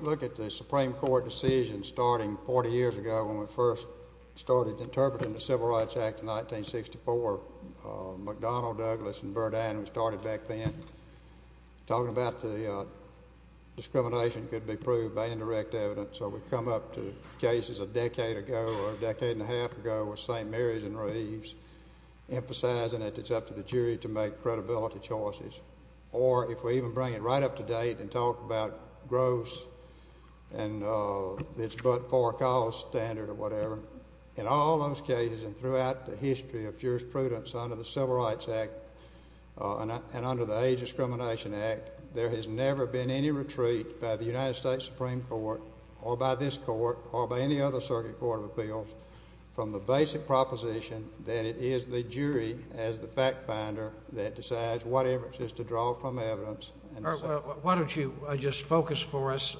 Look at the Supreme Court decision starting 40 years ago when we first started interpreting the Civil Rights Act in 1964. McDonnell, Douglas, and Verdan started back then. Talking about the discrimination could be proved by indirect evidence. So we come up to cases a decade ago or a decade and a half ago with St. Mary's and Reeves, emphasizing that it's up to the jury to make credibility choices. Or if we even bring it right up to date and talk about gross and it's but for a cause standard or whatever. In all those cases and throughout the history of jurisprudence under the Civil Rights Act and under the Age Discrimination Act, there has never been any retreat by the United States Supreme Court or by this court or by any other circuit court of appeals from the basic proposition that it is the jury as the fact finder that decides whatever it is to draw from evidence. Why don't you just focus for us,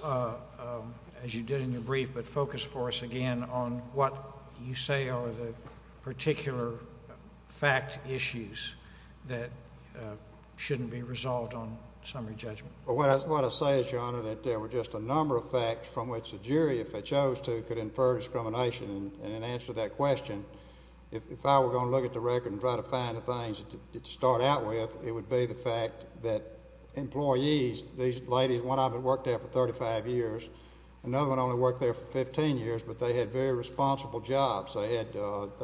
as you did in your brief, but focus for us again on what you say are the particular fact issues that shouldn't be resolved on summary judgment. Well, what I say is, Your Honor, that there were just a number of facts from which the jury, if they chose to, could infer discrimination. And in answer to that question, if I were going to look at the record and try to find the things to start out with, it would be the fact that employees, these ladies, one of them worked there for 35 years, another one only worked there for 15 years, but they had very responsible jobs. They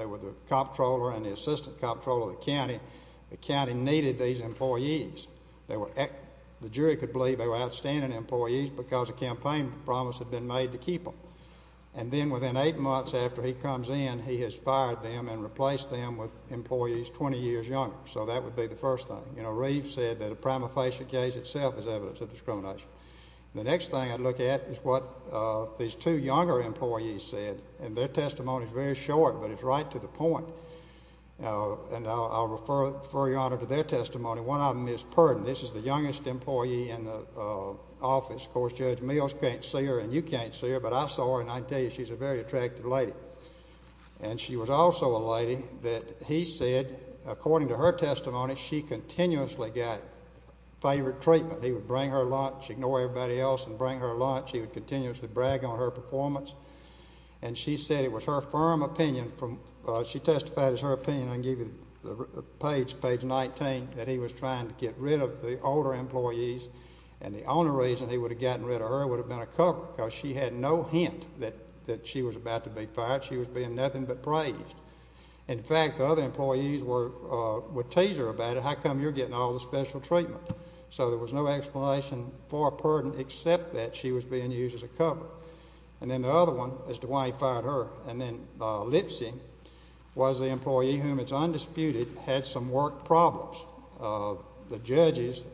were the comptroller and the assistant comptroller of the county. The county needed these employees. The jury could believe they were outstanding employees because a campaign promise had been made to keep them. And then within eight months after he comes in, he has fired them and replaced them with employees 20 years younger. So that would be the first thing. You know, Reeves said that a prima facie case itself is evidence of discrimination. The next thing I'd look at is what these two younger employees said, and their testimony is very short, but it's right to the point. And I'll refer, Your Honor, to their testimony. One of them is Purden. This is the youngest employee in the office. Of course, Judge Mills can't see her and you can't see her, but I saw her, and I tell you, she's a very attractive lady. And she was also a lady that he said, according to her testimony, she continuously got favored treatment. He would bring her lunch, ignore everybody else and bring her lunch. He would continuously brag on her performance. And she said it was her firm opinion. She testified it was her opinion. I can give you the page, page 19, that he was trying to get rid of the older employees. And the only reason he would have gotten rid of her would have been a cover because she had no hint that she was about to be fired. She was being nothing but praised. In fact, the other employees would tease her about it. How come you're getting all the special treatment? So there was no explanation for Purden except that she was being used as a cover. And then the other one as to why he fired her. And then Lipsy was the employee whom it's undisputed had some work problems. The judges,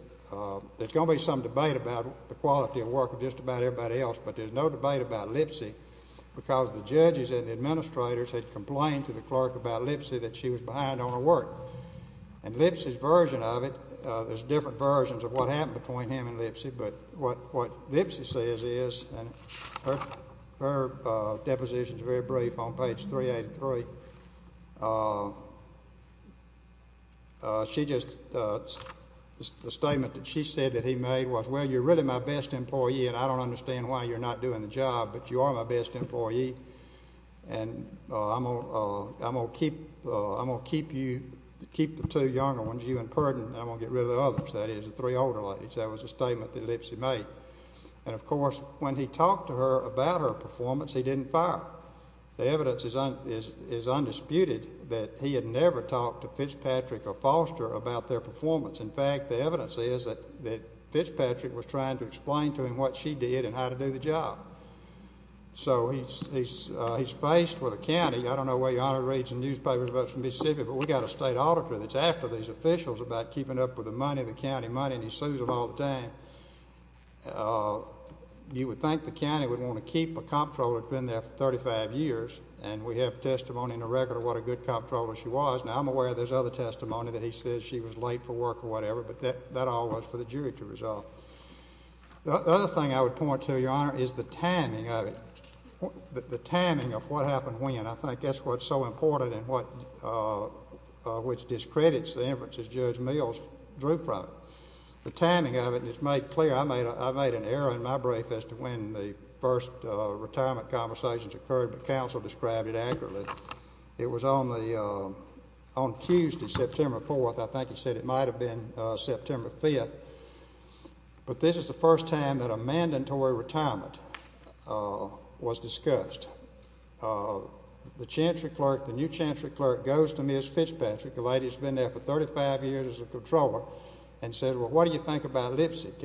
there's going to be some debate about the quality of work of just about everybody else, but there's no debate about Lipsy because the judges and the administrators had complained to the clerk about Lipsy that she was behind on her work. And Lipsy's version of it, there's different versions of what happened between him and Lipsy, but what Lipsy says is, and her deposition is very brief on page 383. She just, the statement that she said that he made was, well, you're really my best employee, and I don't understand why you're not doing the job, but you are my best employee, and I'm going to keep the two younger ones, you and Purden, and I'm going to get rid of the others. That is the three older ladies. That was a statement that Lipsy made. And, of course, when he talked to her about her performance, he didn't fire her. The evidence is undisputed that he had never talked to Fitzpatrick or Foster about their performance. In fact, the evidence is that Fitzpatrick was trying to explain to him what she did and how to do the job. So he's faced with a county. I don't know where your Honor reads the newspapers about Mississippi, but we've got a state auditor that's after these officials about keeping up with the money, the county money, and he sues them all the time. You would think the county would want to keep a comptroller that's been there for 35 years, and we have testimony in the record of what a good comptroller she was. Now, I'm aware there's other testimony that he says she was late for work or whatever, but that all was for the jury to resolve. The other thing I would point to, Your Honor, is the timing of it, the timing of what happened when. I think that's what's so important and which discredits the inferences Judge Mills drew from. The timing of it is made clear. I made an error in my brief as to when the first retirement conversations occurred, but counsel described it accurately. It was on Tuesday, September 4th. I think he said it might have been September 5th. But this is the first time that a mandatory retirement was discussed. The new chancery clerk goes to Ms. Fitzpatrick, the lady that's been there for 35 years as a comptroller, and says, Well, what do you think about Lipsett,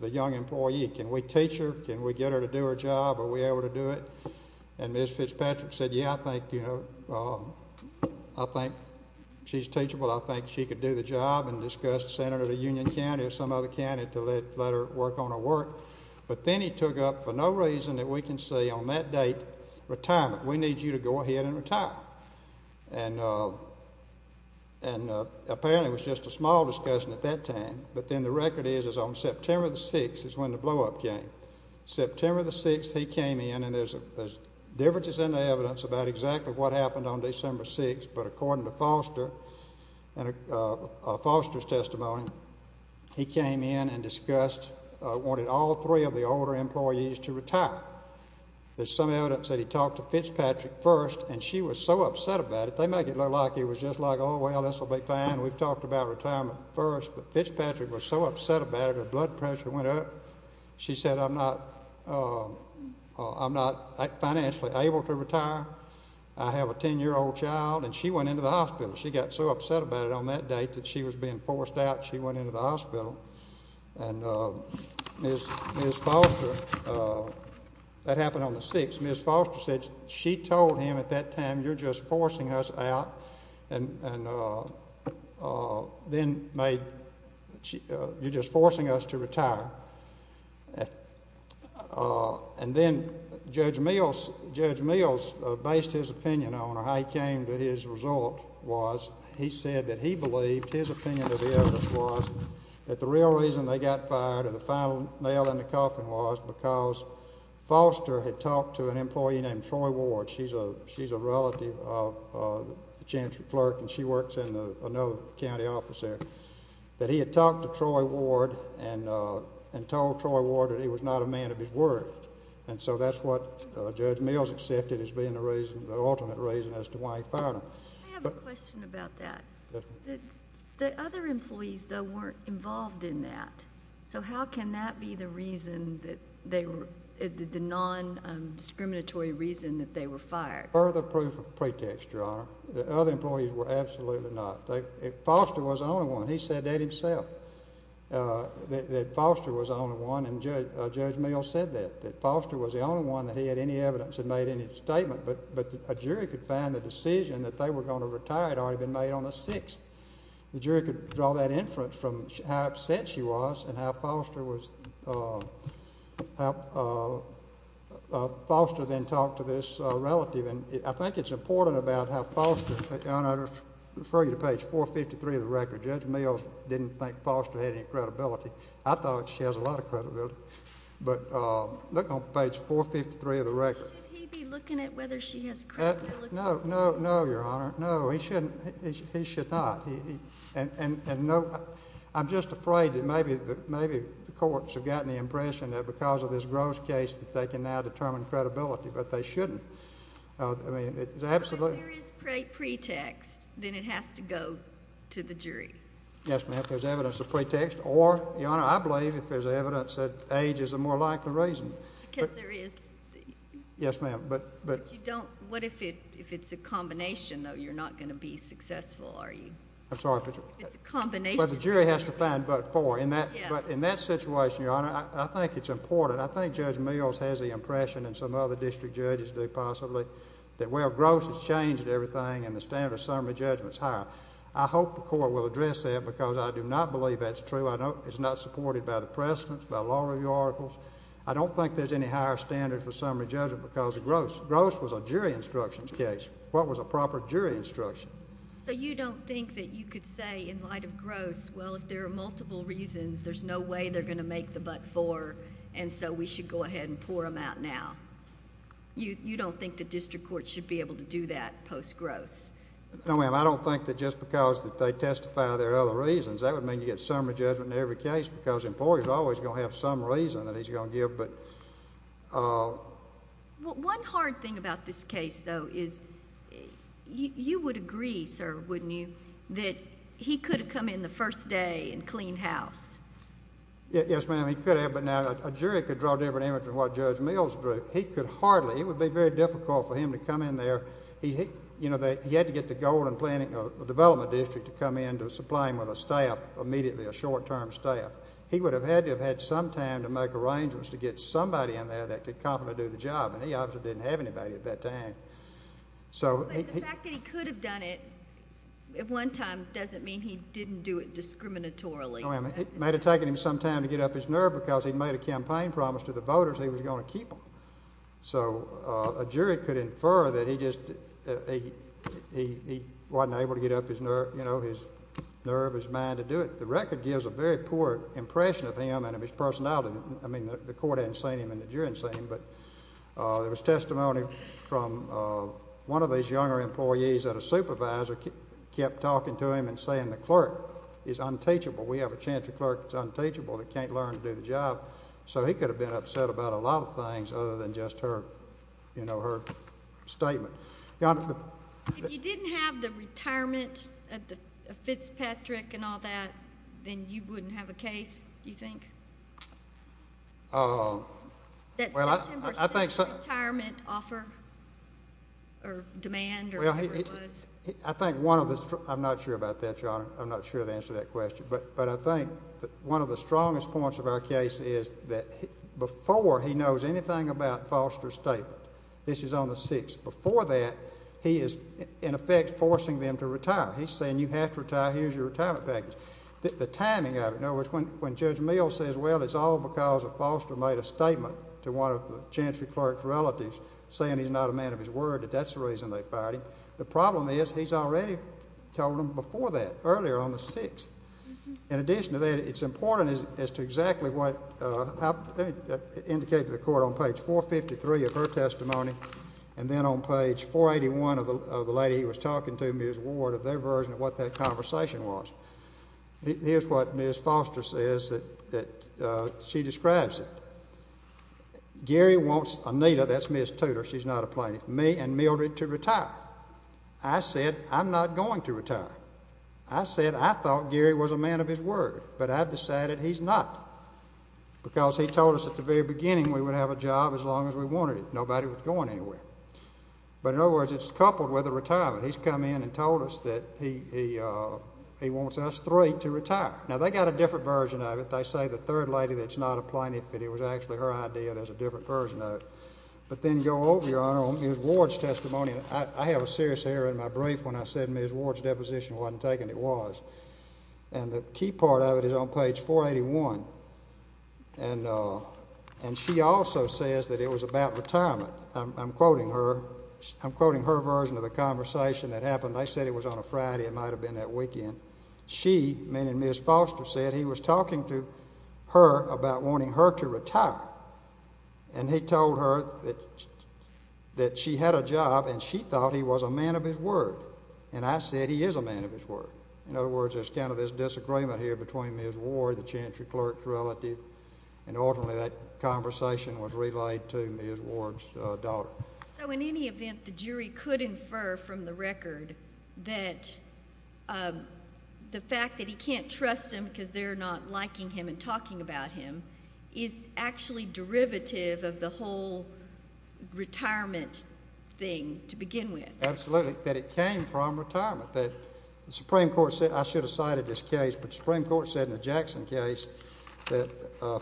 the young employee? Can we teach her? Can we get her to do her job? Are we able to do it? And Ms. Fitzpatrick said, Yeah, I think she's teachable. I think she could do the job and discuss Senator of Union County or some other county to let her work on her work. But then he took up, for no reason that we can see on that date, retirement. We need you to go ahead and retire. And apparently it was just a small discussion at that time. But then the record is on September 6th is when the blowup came. September 6th he came in, and there's differences in the evidence about exactly what happened on December 6th. But according to Foster's testimony, he came in and discussed, wanted all three of the older employees to retire. There's some evidence that he talked to Fitzpatrick first, and she was so upset about it. They make it look like it was just like, Oh, well, this will be fine. We've talked about retirement first. But Fitzpatrick was so upset about it, her blood pressure went up. She said, I'm not financially able to retire. I have a 10-year-old child. And she went into the hospital. She got so upset about it on that date that she was being forced out. She went into the hospital. And Ms. Foster, that happened on the 6th. Ms. Foster said she told him at that time, you're just forcing us out. And then made, you're just forcing us to retire. And then Judge Mills based his opinion on or how he came to his result was he said that he believed his opinion of the evidence was that the real reason they got fired or the final nail in the coffin was because Foster had talked to an employee named Troy Ward. She's a relative of the Chancellor's clerk, and she works in another county office there. That he had talked to Troy Ward and told Troy Ward that he was not a man of his word. And so that's what Judge Mills accepted as being the reason, the alternate reason as to why he fired him. I have a question about that. The other employees, though, weren't involved in that. So how can that be the reason that they were, the nondiscriminatory reason that they were fired? Further proof of pretext, Your Honor. The other employees were absolutely not. Foster was the only one. He said that himself, that Foster was the only one. And Judge Mills said that, that Foster was the only one that he had any evidence and made any statement. But a jury could find the decision that they were going to retire had already been made on the 6th. The jury could draw that inference from how upset she was and how Foster was, how Foster then talked to this relative. And I think it's important about how Foster, Your Honor, I refer you to page 453 of the record. Judge Mills didn't think Foster had any credibility. I thought she has a lot of credibility. But look on page 453 of the record. Should he be looking at whether she has credibility? No, no, no, Your Honor. No, he shouldn't. He should not. And no, I'm just afraid that maybe the courts have gotten the impression that because of this Gross case that they can now determine credibility. But they shouldn't. If there is pretext, then it has to go to the jury. Yes, ma'am. If there's evidence of pretext or, Your Honor, I believe if there's evidence that age is a more likely reason. Because there is. Yes, ma'am. But you don't, what if it's a combination, though? You're not going to be successful, are you? I'm sorry. It's a combination. But the jury has to find but for. But in that situation, Your Honor, I think it's important. But I think Judge Mills has the impression and some other district judges do possibly that where Gross has changed everything and the standard of summary judgment is higher. I hope the court will address that because I do not believe that's true. It's not supported by the precedents, by law review articles. I don't think there's any higher standard for summary judgment because of Gross. Gross was a jury instructions case. What was a proper jury instruction? So you don't think that you could say in light of Gross, well, if there are multiple reasons, there's no way they're going to make the but for. And so we should go ahead and pour them out now. You don't think the district court should be able to do that post Gross? No, ma'am. I don't think that just because they testify there are other reasons. That would mean you get summary judgment in every case because the employer is always going to have some reason that he's going to give. But one hard thing about this case, though, is you would agree, sir, wouldn't you, that he could have come in the first day and cleaned house? Yes, ma'am. He could have, but now a jury could draw a different image from what Judge Mills drew. He could hardly. It would be very difficult for him to come in there. He had to get the Golden Development District to come in to supply him with a staff immediately, a short-term staff. He would have had to have had some time to make arrangements to get somebody in there that could confidently do the job, and he obviously didn't have anybody at that time. But the fact that he could have done it at one time doesn't mean he didn't do it discriminatorily. It might have taken him some time to get up his nerve because he'd made a campaign promise to the voters he was going to keep them. So a jury could infer that he just wasn't able to get up his nerve, his mind to do it. The record gives a very poor impression of him and of his personality. I mean, the court hadn't seen him and the jury hadn't seen him. But there was testimony from one of these younger employees that a supervisor kept talking to him and saying the clerk is unteachable. We have a Chantry clerk that's unteachable that can't learn to do the job. So he could have been upset about a lot of things other than just her statement. If you didn't have the retirement of Fitzpatrick and all that, then you wouldn't have a case, do you think? That September 6th retirement offer or demand or whatever it was? I'm not sure about that, Your Honor. I'm not sure of the answer to that question. But I think one of the strongest points of our case is that before he knows anything about Foster's statement, this is on the 6th, before that he is in effect forcing them to retire. He's saying you have to retire. Here's your retirement package. The timing of it, in other words, when Judge Mills says, well, it's all because Foster made a statement to one of the Chantry clerk's relatives saying he's not a man of his word, that that's the reason they fired him. The problem is he's already told them before that, earlier on the 6th. In addition to that, it's important as to exactly what I indicated to the court on page 453 of her testimony and then on page 481 of the lady he was talking to, Ms. Ward, of their version of what that conversation was. Here's what Ms. Foster says that she describes it. Gary wants Anita, that's Ms. Tudor, she's not a plaintiff, me and Mildred to retire. I said I'm not going to retire. I said I thought Gary was a man of his word, but I've decided he's not because he told us at the very beginning we would have a job as long as we wanted it. Nobody was going anywhere. But in other words, it's coupled with a retirement. He's come in and told us that he wants us three to retire. Now, they've got a different version of it. They say the third lady that's not a plaintiff, but it was actually her idea. There's a different version of it. But then go over, Your Honor, on Ms. Ward's testimony. I have a serious error in my brief when I said Ms. Ward's deposition wasn't taken. It was. And the key part of it is on page 481. And she also says that it was about retirement. I'm quoting her. I'm quoting her version of the conversation that happened. They said it was on a Friday. It might have been that weekend. She, me and Ms. Foster, said he was talking to her about wanting her to retire. And he told her that she had a job, and she thought he was a man of his word. And I said he is a man of his word. In other words, there's kind of this disagreement here between Ms. Ward, the chantry clerk's relative, and ultimately that conversation was relayed to Ms. Ward's daughter. So in any event, the jury could infer from the record that the fact that he can't trust them because they're not liking him and talking about him is actually derivative of the whole retirement thing to begin with. Absolutely. That it came from retirement. The Supreme Court said, I should have cited this case, but the Supreme Court said in the Jackson case that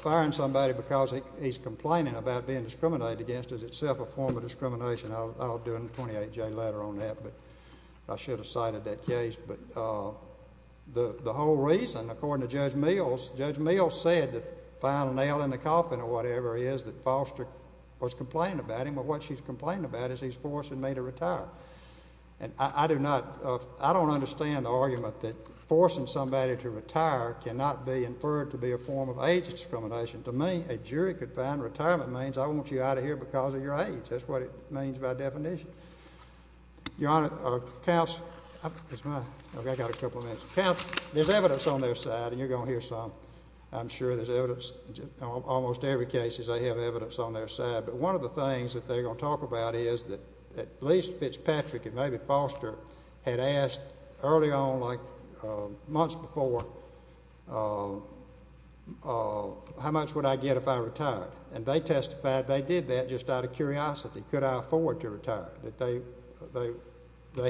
firing somebody because he's complaining about being discriminated against is itself a form of discrimination. I'll do a 28-J letter on that, but I should have cited that case. But the whole reason, according to Judge Mills, Judge Mills said the final nail in the coffin or whatever it is that Foster was complaining about him, what she's complaining about is he's forcing me to retire. And I don't understand the argument that forcing somebody to retire cannot be inferred to be a form of age discrimination. To me, a jury could find retirement means I want you out of here because of your age. That's what it means by definition. Your Honor, there's evidence on their side, and you're going to hear some. I'm sure there's evidence. Almost every case is they have evidence on their side. But one of the things that they're going to talk about is that at least Fitzpatrick and maybe Foster had asked early on, like months before, how much would I get if I retired? And they testified they did that just out of curiosity. Could I afford to retire? They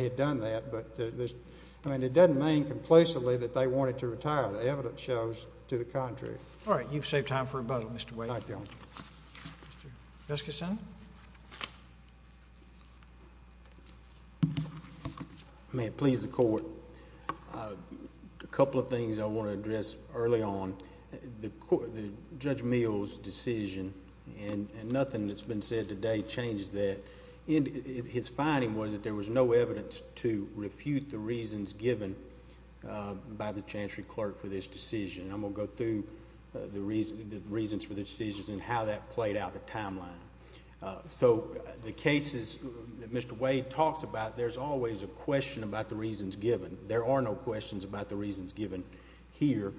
had done that, but it doesn't mean conclusively that they wanted to retire. The evidence shows to the contrary. All right. You've saved time for rebuttal, Mr. Wade. Thank you, Your Honor. Judge Kishan. May it please the court. A couple of things I want to address early on. Judge Meehl's decision, and nothing that's been said today changes that. His finding was that there was no evidence to refute the reasons given by the chancery clerk for this decision. And I'm going to go through the reasons for the decisions and how that played out the timeline. So the cases that Mr. Wade talks about, there's always a question about the reasons given. There are no questions about the reasons given here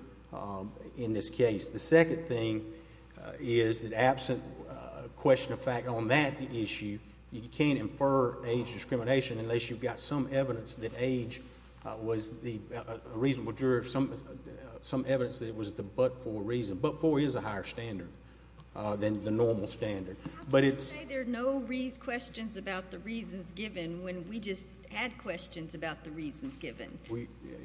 in this case. The second thing is that absent question of fact on that issue, you can't infer age discrimination unless you've got some evidence that age was a reasonable juror, some evidence that it was the but-for reason. But-for is a higher standard than the normal standard. How can you say there are no questions about the reasons given when we just had questions about the reasons given?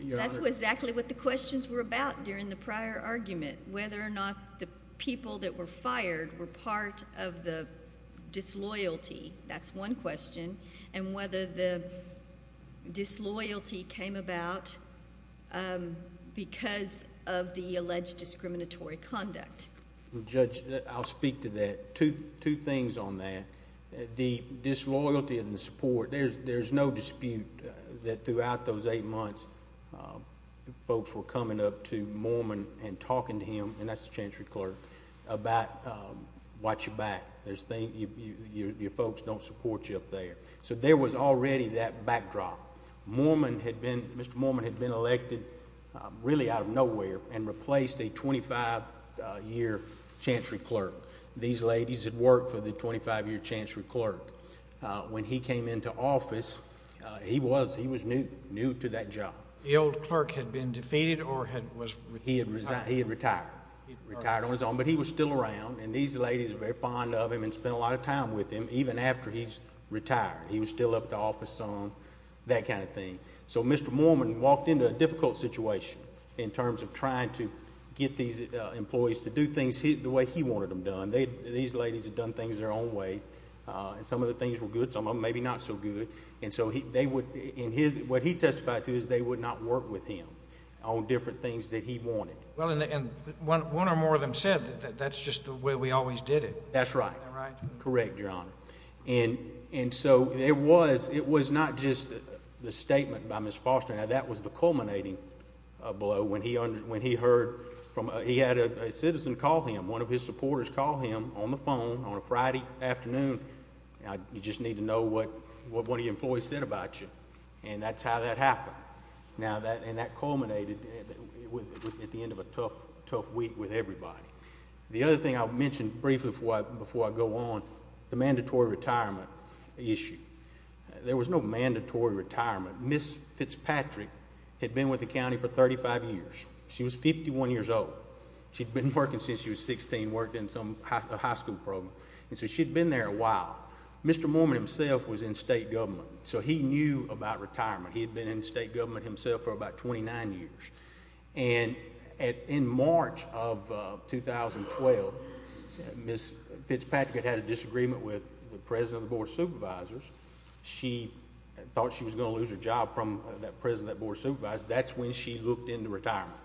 That's exactly what the questions were about during the prior argument, whether or not the people that were fired were part of the disloyalty. That's one question. And whether the disloyalty came about because of the alleged discriminatory conduct. Judge, I'll speak to that. Two things on that. The disloyalty and the support, there's no dispute that throughout those eight months, folks were coming up to Mormon and talking to him, and that's the chancery clerk, about watch your back. Your folks don't support you up there. So there was already that backdrop. Mr. Mormon had been elected really out of nowhere and replaced a 25-year chancery clerk. These ladies had worked for the 25-year chancery clerk. When he came into office, he was new to that job. The old clerk had been defeated or was retired? He had retired. He retired on his own, but he was still around. And these ladies were very fond of him and spent a lot of time with him, even after he's retired. He was still up at the office some, that kind of thing. So Mr. Mormon walked into a difficult situation in terms of trying to get these employees to do things the way he wanted them done. These ladies had done things their own way, and some of the things were good, some of them maybe not so good. And so what he testified to is they would not work with him on different things that he wanted. Well, and one or more of them said that that's just the way we always did it. That's right. Correct, Your Honor. And so it was not just the statement by Ms. Foster. Now, that was the culminating blow when he heard from a citizen called him. One of his supporters called him on the phone on a Friday afternoon. You just need to know what one of your employees said about you. And that's how that happened. Now, and that culminated at the end of a tough, tough week with everybody. The other thing I'll mention briefly before I go on, the mandatory retirement issue. There was no mandatory retirement. Ms. Fitzpatrick had been with the county for 35 years. She was 51 years old. She'd been working since she was 16, worked in some high school program. And so she'd been there a while. Mr. Mormon himself was in state government, so he knew about retirement. He had been in state government himself for about 29 years. And in March of 2012, Ms. Fitzpatrick had had a disagreement with the president of the board of supervisors. She thought she was going to lose her job from that president of that board of supervisors. That's when she looked into retirement.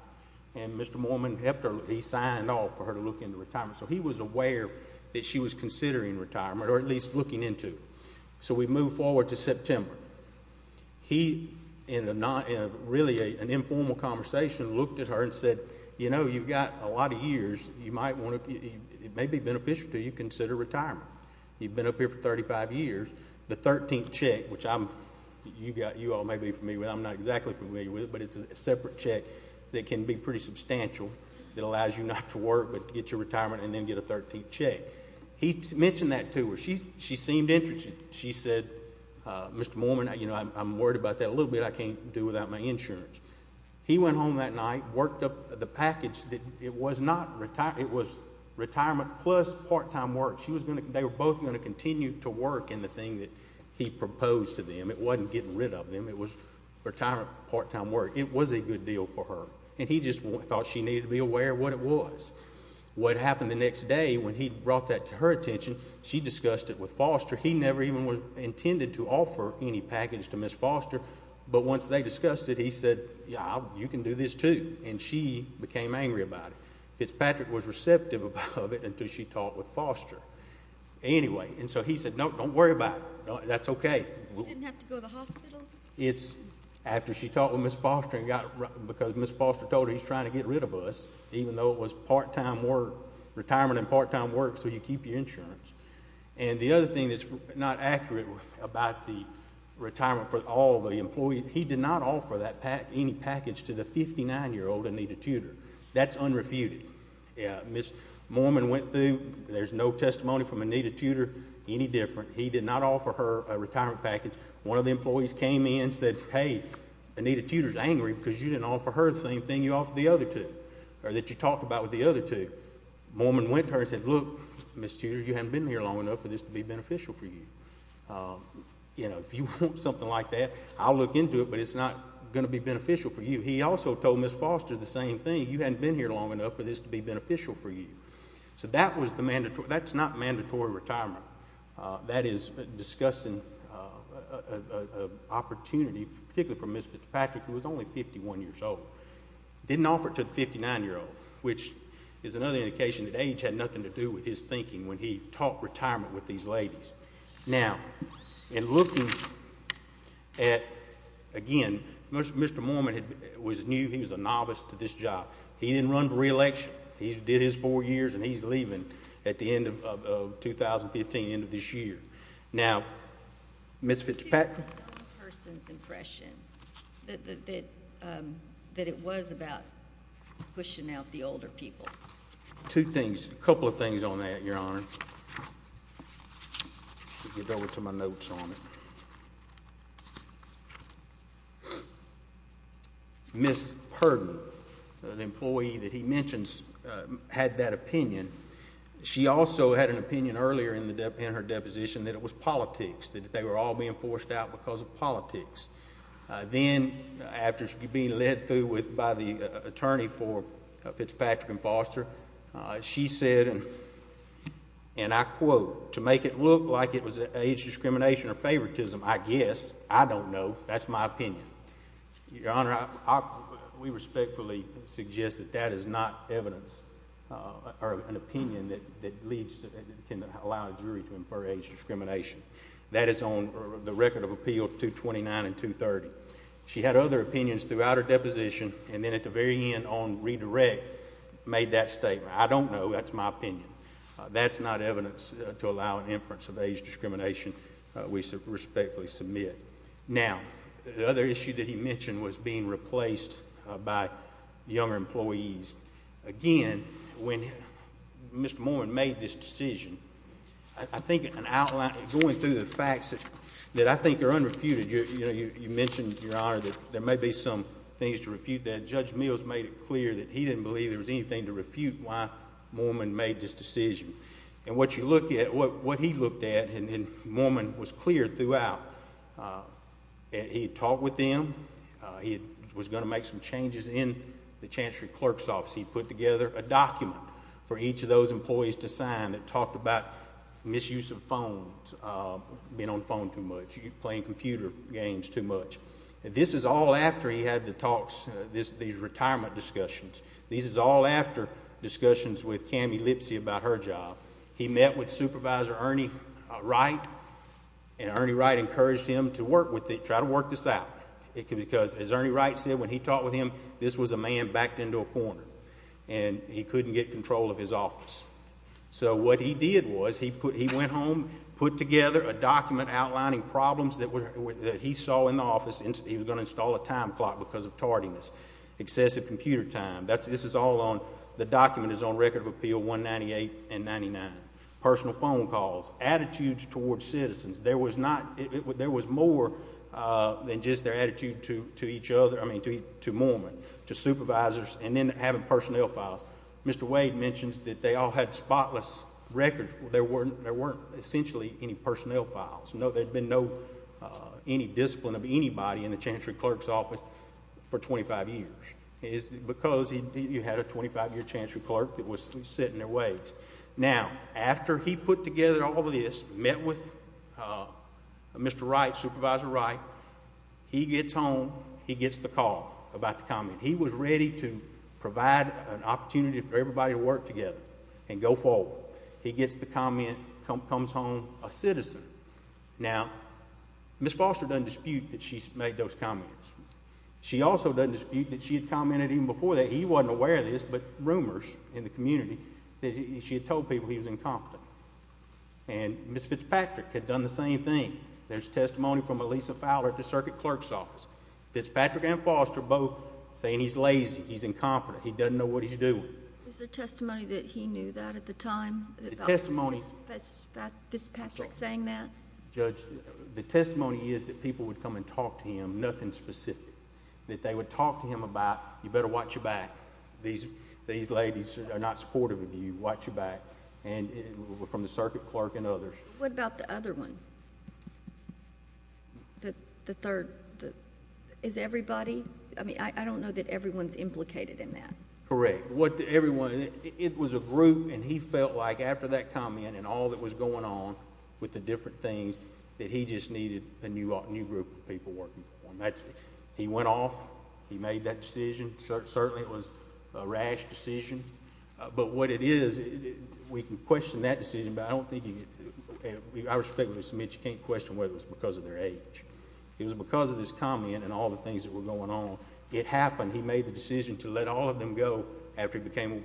And Mr. Mormon helped her. He signed off for her to look into retirement. So he was aware that she was considering retirement or at least looking into it. So we move forward to September. He, in really an informal conversation, looked at her and said, You know, you've got a lot of years. It may be beneficial to you to consider retirement. You've been up here for 35 years. The 13th check, which you all may be familiar with. I'm not exactly familiar with it, but it's a separate check that can be pretty substantial. It allows you not to work but to get your retirement and then get a 13th check. He mentioned that to her. She seemed interested. She said, Mr. Mormon, you know, I'm worried about that a little bit. I can't do without my insurance. He went home that night, worked up the package. It was not retirement. It was retirement plus part-time work. They were both going to continue to work in the thing that he proposed to them. It wasn't getting rid of them. It was retirement, part-time work. It was a good deal for her. And he just thought she needed to be aware of what it was. What happened the next day when he brought that to her attention, she discussed it with Foster. He never even intended to offer any package to Ms. Foster. But once they discussed it, he said, yeah, you can do this too. And she became angry about it. Fitzpatrick was receptive of it until she talked with Foster. Anyway, and so he said, no, don't worry about it. That's okay. He didn't have to go to the hospital? It's after she talked with Ms. Foster because Ms. Foster told her he's trying to get rid of us, even though it was part-time work, retirement and part-time work, so you keep your insurance. And the other thing that's not accurate about the retirement for all the employees, he did not offer any package to the 59-year-old Anita Tudor. That's unrefuted. Ms. Mormon went through. There's no testimony from Anita Tudor any different. He did not offer her a retirement package. One of the employees came in and said, hey, Anita Tudor's angry because you didn't offer her the same thing you offered the other two, or that you talked about with the other two. Mormon went to her and said, look, Ms. Tudor, you haven't been here long enough for this to be beneficial for you. You know, if you want something like that, I'll look into it, but it's not going to be beneficial for you. He also told Ms. Foster the same thing. You haven't been here long enough for this to be beneficial for you. So that was the mandatory. That's not mandatory retirement. That is discussing an opportunity, particularly for Ms. Fitzpatrick, who was only 51 years old. Didn't offer it to the 59-year-old, which is another indication that age had nothing to do with his thinking when he talked retirement with these ladies. Now, in looking at, again, Mr. Mormon knew he was a novice to this job. He didn't run for reelection. He did his four years, and he's leaving at the end of 2015, end of this year. Now, Ms. Fitzpatrick? On the person's impression that it was about pushing out the older people. Two things. A couple of things on that, Your Honor. I'll get over to my notes on it. Ms. Purdon, the employee that he mentions, had that opinion. She also had an opinion earlier in her deposition that it was politics, that they were all being forced out because of politics. Then, after being led through by the attorney for Fitzpatrick and Foster, she said, and I quote, to make it look like it was age discrimination or favoritism, I guess. I don't know. That's my opinion. Your Honor, we respectfully suggest that that is not evidence or an opinion that can allow a jury to infer age discrimination. That is on the record of appeal 229 and 230. She had other opinions throughout her deposition, and then at the very end on redirect made that statement. I don't know. That's my opinion. That's not evidence to allow an inference of age discrimination. We respectfully submit. Now, the other issue that he mentioned was being replaced by younger employees. Again, when Mr. Mormon made this decision, I think going through the facts that I think are unrefuted, you mentioned, Your Honor, that there may be some things to refute that. Judge Mills made it clear that he didn't believe there was anything to refute why Mormon made this decision. And what you look at, what he looked at, and Mormon was clear throughout. He had talked with them. He was going to make some changes in the chancery clerk's office. He put together a document for each of those employees to sign that talked about misuse of phones, being on the phone too much, playing computer games too much. This is all after he had the talks, these retirement discussions. These are all after discussions with Cammie Lipsey about her job. He met with Supervisor Ernie Wright, and Ernie Wright encouraged him to work with it, try to work this out. Because, as Ernie Wright said, when he talked with him, this was a man backed into a corner, and he couldn't get control of his office. So what he did was he went home, put together a document outlining problems that he saw in the office. He was going to install a time clock because of tardiness. Excessive computer time. This is all on, the document is on Record of Appeal 198 and 99. Personal phone calls. Attitudes towards citizens. There was not, there was more than just their attitude to each other, I mean to Mormon, to supervisors, and then having personnel files. Mr. Wade mentions that they all had spotless records. There weren't essentially any personnel files. No, there had been no, any discipline of anybody in the Chancery Clerk's office for 25 years. Because you had a 25-year Chancery Clerk that was sitting in their ways. Now, after he put together all of this, met with Mr. Wright, Supervisor Wright, he gets home, he gets the call about the comment. He was ready to provide an opportunity for everybody to work together and go forward. He gets the comment, comes home a citizen. Now, Ms. Foster doesn't dispute that she's made those comments. She also doesn't dispute that she had commented even before that he wasn't aware of this, but rumors in the community that she had told people he was incompetent. And Ms. Fitzpatrick had done the same thing. There's testimony from Elisa Fowler at the Circuit Clerk's office. Fitzpatrick and Foster both saying he's lazy, he's incompetent, he doesn't know what he's doing. Is there testimony that he knew that at the time? The testimony... Fitzpatrick saying that? Judge, the testimony is that people would come and talk to him, nothing specific. That they would talk to him about, you better watch your back. These ladies are not supportive of you. Watch your back. And from the Circuit Clerk and others. What about the other one? The third. Is everybody? I mean, I don't know that everyone's implicated in that. Correct. What everyone... it was a group, and he felt like after that comment and all that was going on with the different things, that he just needed a new group of people working for him. He went off. He made that decision. Certainly it was a rash decision. But what it is... we can question that decision, but I don't think you... I respect Ms. Smith, you can't question whether it was because of their age. It was because of this comment and all the things that were going on. It happened. He made the decision to let all of them go after he became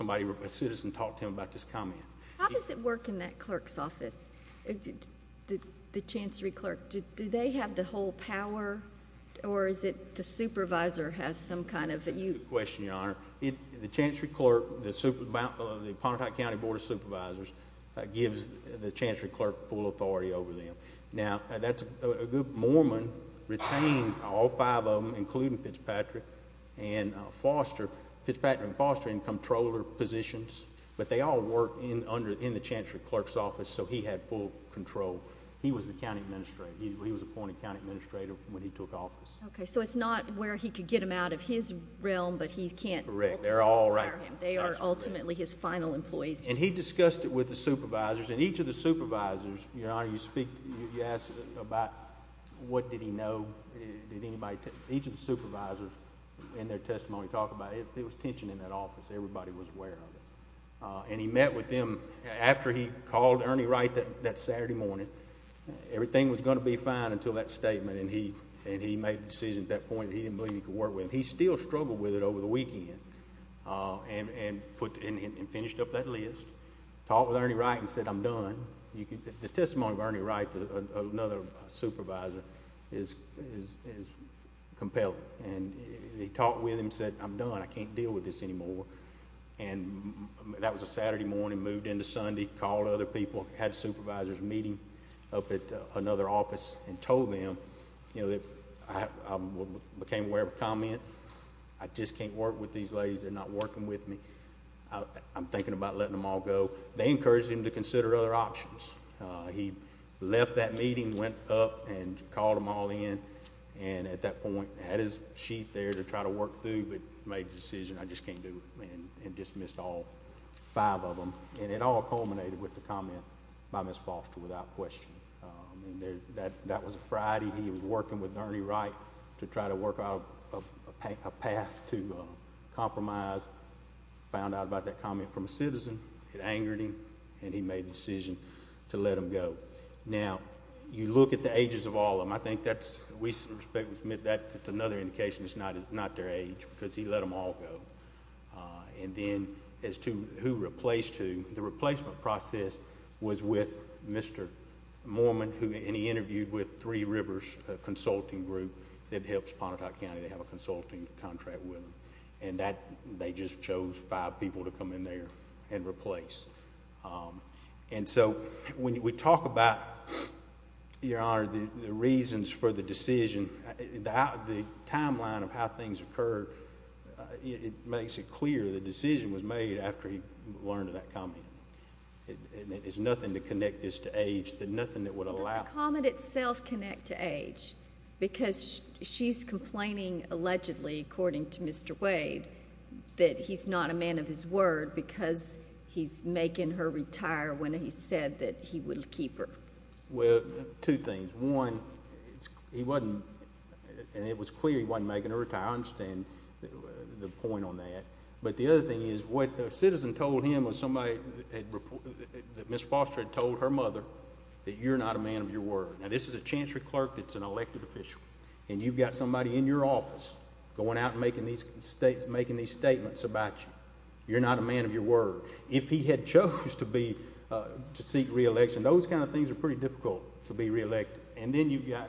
a citizen and talked to him about this comment. How does it work in that clerk's office? The Chancery Clerk, do they have the whole power? Or is it the supervisor has some kind of... That's a good question, Your Honor. The Chancery Clerk, the Pontotoc County Board of Supervisors, gives the Chancery Clerk full authority over them. Now, that's a good... Moorman retained all five of them, including Fitzpatrick and Foster. Fitzpatrick and Foster in controller positions, but they all worked in the Chancery Clerk's office, so he had full control. He was the county administrator. He was appointed county administrator when he took office. Okay, so it's not where he could get them out of his realm, but he can't... Correct. They're all... They are ultimately his final employees. And he discussed it with the supervisors. And each of the supervisors, Your Honor, you asked about what did he know. Did anybody... Each of the supervisors in their testimony talked about it. There was tension in that office. Everybody was aware of it. And he met with them after he called Ernie Wright that Saturday morning. Everything was going to be fine until that statement. And he made the decision at that point that he didn't believe he could work with them. He still struggled with it over the weekend and finished up that list. He talked with Ernie Wright and said, I'm done. The testimony of Ernie Wright, another supervisor, is compelling. And he talked with him and said, I'm done. I can't deal with this anymore. And that was a Saturday morning, moved into Sunday, called other people. Had supervisors meeting up at another office and told them, you know, that I became aware of a comment. I just can't work with these ladies. They're not working with me. I'm thinking about letting them all go. They encouraged him to consider other options. He left that meeting, went up and called them all in. And at that point had his sheet there to try to work through, but made the decision, I just can't do it. And dismissed all five of them. And it all culminated with the comment by Ms. Foster without question. That was a Friday. He was working with Ernie Wright to try to work out a path to compromise. Found out about that comment from a citizen. It angered him. And he made the decision to let them go. Now, you look at the ages of all of them. I think that's another indication it's not their age because he let them all go. And then as to who replaced who, the replacement process was with Mr. Mormon. And he interviewed with Three Rivers Consulting Group that helps Pontotoc County. They have a consulting contract with them. And they just chose five people to come in there and replace. And so when we talk about, Your Honor, the reasons for the decision, the timeline of how things occurred, it makes it clear the decision was made after he learned of that comment. And it is nothing to connect this to age, nothing that would allow. But the comment itself connects to age because she's complaining allegedly, according to Mr. Wade, that he's not a man of his word because he's making her retire when he said that he would keep her. Well, two things. One, he wasn't, and it was clear he wasn't making her retire. I understand the point on that. But the other thing is what a citizen told him or somebody that Ms. Foster had told her mother, that you're not a man of your word. Now, this is a chancery clerk that's an elected official. And you've got somebody in your office going out and making these statements about you. You're not a man of your word. If he had chose to seek re-election, those kind of things are pretty difficult to be re-elected. And then you've got,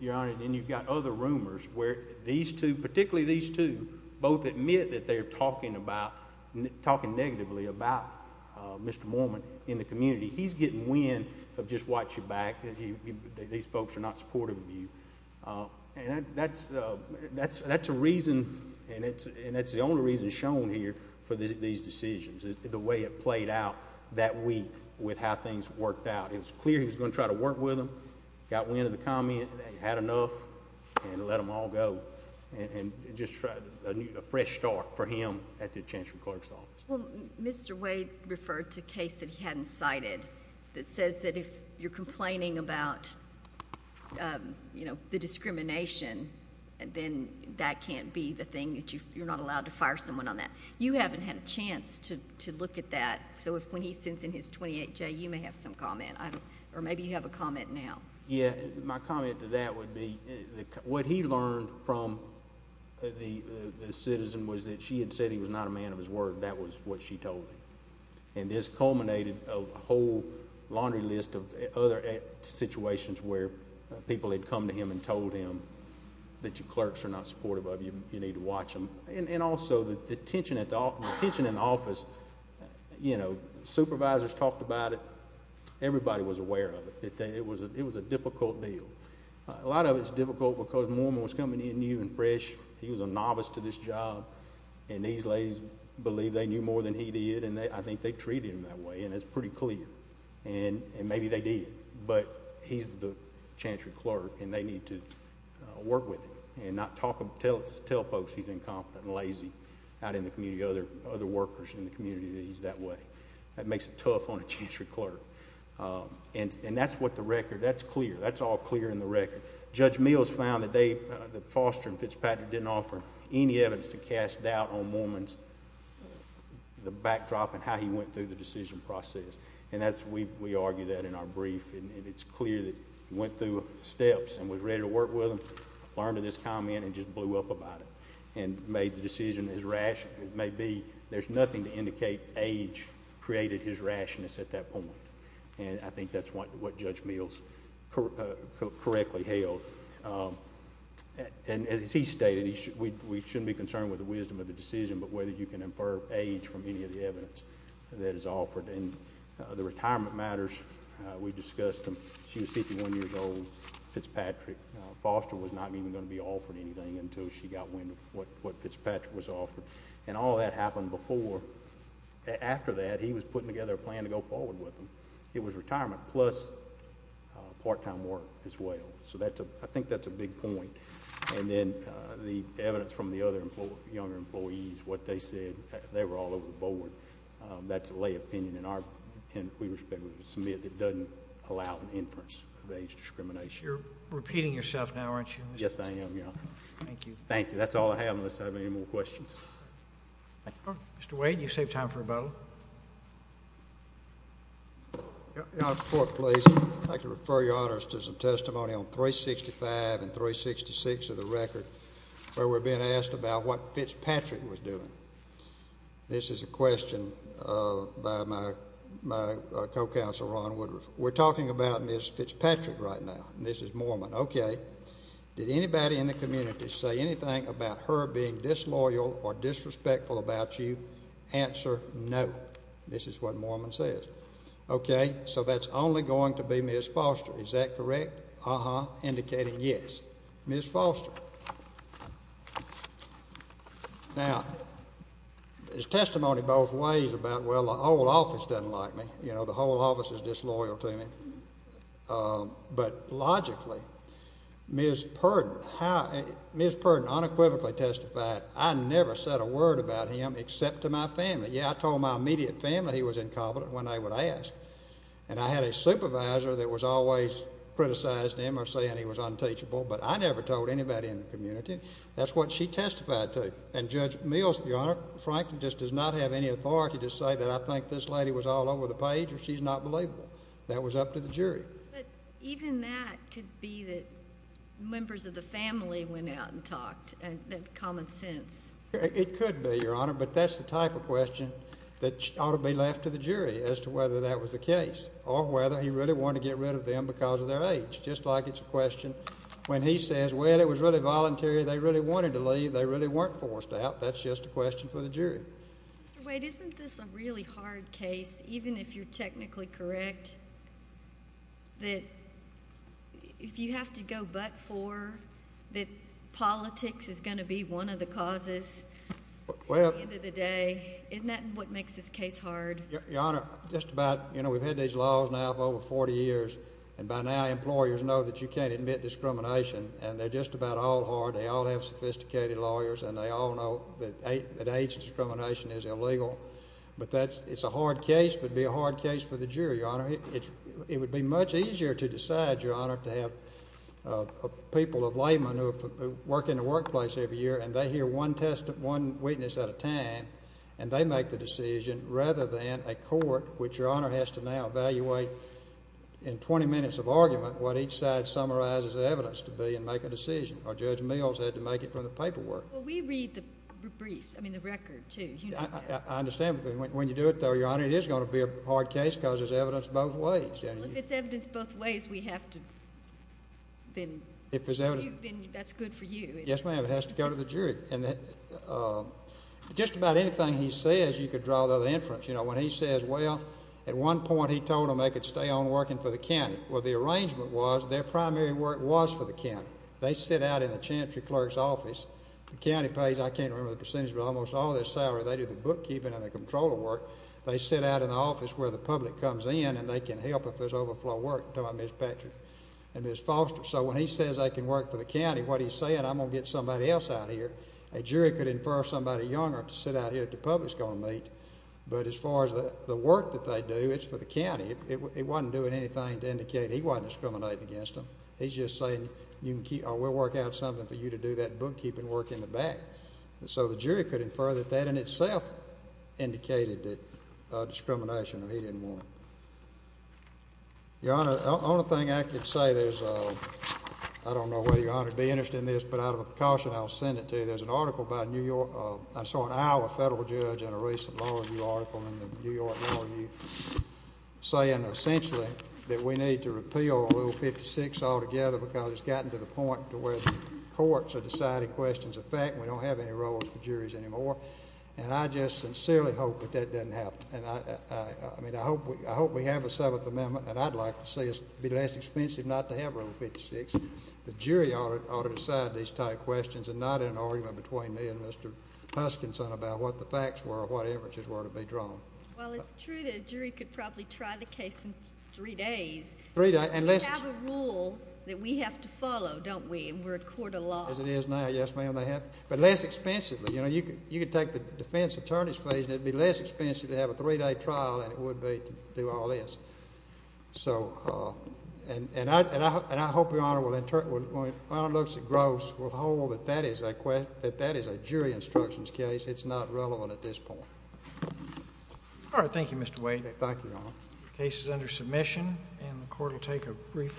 Your Honor, then you've got other rumors where these two, particularly these two, both admit that they're talking negatively about Mr. Mormon in the community. He's getting wind of just watch your back, that these folks are not supportive of you. And that's a reason, and it's the only reason shown here for these decisions, the way it played out that week with how things worked out. And it's clear he was going to try to work with them. Got wind of the comment, had enough, and let them all go. And just a fresh start for him at the chancery clerk's office. Well, Mr. Wade referred to a case that he hadn't cited that says that if you're complaining about the discrimination, then that can't be the thing that you're not allowed to fire someone on that. You haven't had a chance to look at that. So when he sends in his 28-J, you may have some comment. Or maybe you have a comment now. Yeah. My comment to that would be what he learned from the citizen was that she had said he was not a man of his word. That was what she told him. And this culminated a whole laundry list of other situations where people had come to him and told him that your clerks are not supportive of you and you need to watch them. And also the tension in the office, you know, supervisors talked about it. Everybody was aware of it. It was a difficult deal. A lot of it's difficult because Mormon was coming in new and fresh. He was a novice to this job. And these ladies believe they knew more than he did. And I think they treated him that way, and it's pretty clear. And maybe they did. But he's the chancery clerk, and they need to work with him and not tell folks he's incompetent and lazy out in the community, other workers in the community that he's that way. That makes it tough on a chancery clerk. And that's what the record, that's clear. That's all clear in the record. Judge Mills found that Foster and Fitzpatrick didn't offer any evidence to cast doubt on Mormon's backdrop and how he went through the decision process. And we argue that in our brief, and it's clear that he went through steps and was ready to work with them, learned of this comment, and just blew up about it and made the decision as rational as it may be. There's nothing to indicate age created his rationness at that point. And I think that's what Judge Mills correctly held. And as he stated, we shouldn't be concerned with the wisdom of the decision but whether you can infer age from any of the evidence that is offered. And the retirement matters, we discussed them. She was 51 years old, Fitzpatrick. Foster was not even going to be offered anything until she got what Fitzpatrick was offered. And all that happened before. After that, he was putting together a plan to go forward with them. It was retirement plus part-time work as well. So I think that's a big point. And then the evidence from the other younger employees, what they said, they were all over the board. That's a lay opinion in our view and we respect what was submitted that doesn't allow an inference of age discrimination. You're repeating yourself now, aren't you? Yes, I am, Your Honor. Thank you. Thank you. That's all I have unless I have any more questions. Mr. Wade, you saved time for a vote. Your Honor, support please. I'd like to refer Your Honor to some testimony on 365 and 366 of the record where we're being asked about what Fitzpatrick was doing. This is a question by my co-counsel Ron Woodruff. We're talking about Ms. Fitzpatrick right now. This is Mormon. Okay. Did anybody in the community say anything about her being disloyal or disrespectful about you? Answer, no. This is what Mormon says. Okay. So that's only going to be Ms. Foster. Is that correct? Uh-huh. Indicating yes. Ms. Foster. Now, there's testimony both ways about, well, the whole office doesn't like me. You know, the whole office is disloyal to me. But logically, Ms. Purdon unequivocally testified, I never said a word about him except to my family. Yeah, I told my immediate family he was incompetent when they would ask. And I had a supervisor that was always criticizing him or saying he was unteachable, but I never told anybody in the community. That's what she testified to. And Judge Mills, Your Honor, frankly just does not have any authority to say that I think this lady was all over the page or she's not believable. That was up to the jury. But even that could be that members of the family went out and talked, that common sense. It could be, Your Honor. But that's the type of question that ought to be left to the jury as to whether that was the case or whether he really wanted to get rid of them because of their age, just like it's a question when he says, well, it was really voluntary. They really wanted to leave. They really weren't forced out. That's just a question for the jury. Mr. Wade, isn't this a really hard case, even if you're technically correct, that if you have to go but for, that politics is going to be one of the causes at the end of the day? Isn't that what makes this case hard? Your Honor, just about, you know, we've had these laws now for over 40 years, and by now employers know that you can't admit discrimination, and they're just about all hard. They all have sophisticated lawyers, and they all know that age discrimination is illegal. But it's a hard case. It would be a hard case for the jury, Your Honor. It would be much easier to decide, Your Honor, to have people of labor who work in the workplace every year, and they hear one witness at a time, and they make the decision, rather than a court, which Your Honor has to now evaluate in 20 minutes of argument what each side summarizes the evidence to be and make a decision, or Judge Mills had to make it from the paperwork. Well, we read the briefs, I mean the record, too. I understand. When you do it, though, Your Honor, it is going to be a hard case because there's evidence both ways. Well, if it's evidence both ways, we have to then. If there's evidence. That's good for you. Yes, ma'am. It has to go to the jury. Just about anything he says, you could draw the inference. You know, when he says, well, at one point he told them they could stay on working for the county. Well, the arrangement was their primary work was for the county. They sit out in the chancery clerk's office. The county pays, I can't remember the percentage, but almost all their salary. They do the bookkeeping and the controller work. They sit out in the office where the public comes in and they can help if there's overflow work, like Ms. Patrick and Ms. Foster. So when he says they can work for the county, what he's saying, I'm going to get somebody else out here. A jury could infer somebody younger to sit out here that the public is going to meet. But as far as the work that they do, it's for the county. It wasn't doing anything to indicate he wasn't discriminating against them. He's just saying, we'll work out something for you to do that bookkeeping work in the back. So the jury could infer that that in itself indicated that discrimination or he didn't want it. Your Honor, the only thing I could say is, I don't know whether Your Honor would be interested in this, but out of a precaution I'll send it to you. There's an article by a New York, I'm sorry, Iowa federal judge in a recent law review article in the New York Law Review saying essentially that we need to repeal Rule 56 altogether because it's gotten to the point to where the courts are deciding questions of fact and we don't have any roles for juries anymore. And I just sincerely hope that that doesn't happen. I mean, I hope we have a Seventh Amendment, and I'd like to see it be less expensive not to have Rule 56. The jury ought to decide these type of questions and not in an argument between me and Mr. Huskinson about what the facts were or what inferences were to be drawn. Well, it's true that a jury could probably try the case in three days. We have a rule that we have to follow, don't we, and we're a court of law. As it is now, yes, ma'am, they have. But less expensively, you know, you could take the defense attorney's fees and it would be less expensive to have a three-day trial than it would be to do all this. So, and I hope Your Honor, when it looks at Gross, will hold that that is a jury instructions case. It's not relevant at this point. All right, thank you, Mr. Wade. Thank you, Your Honor. The case is under submission, and the court will take a brief recess.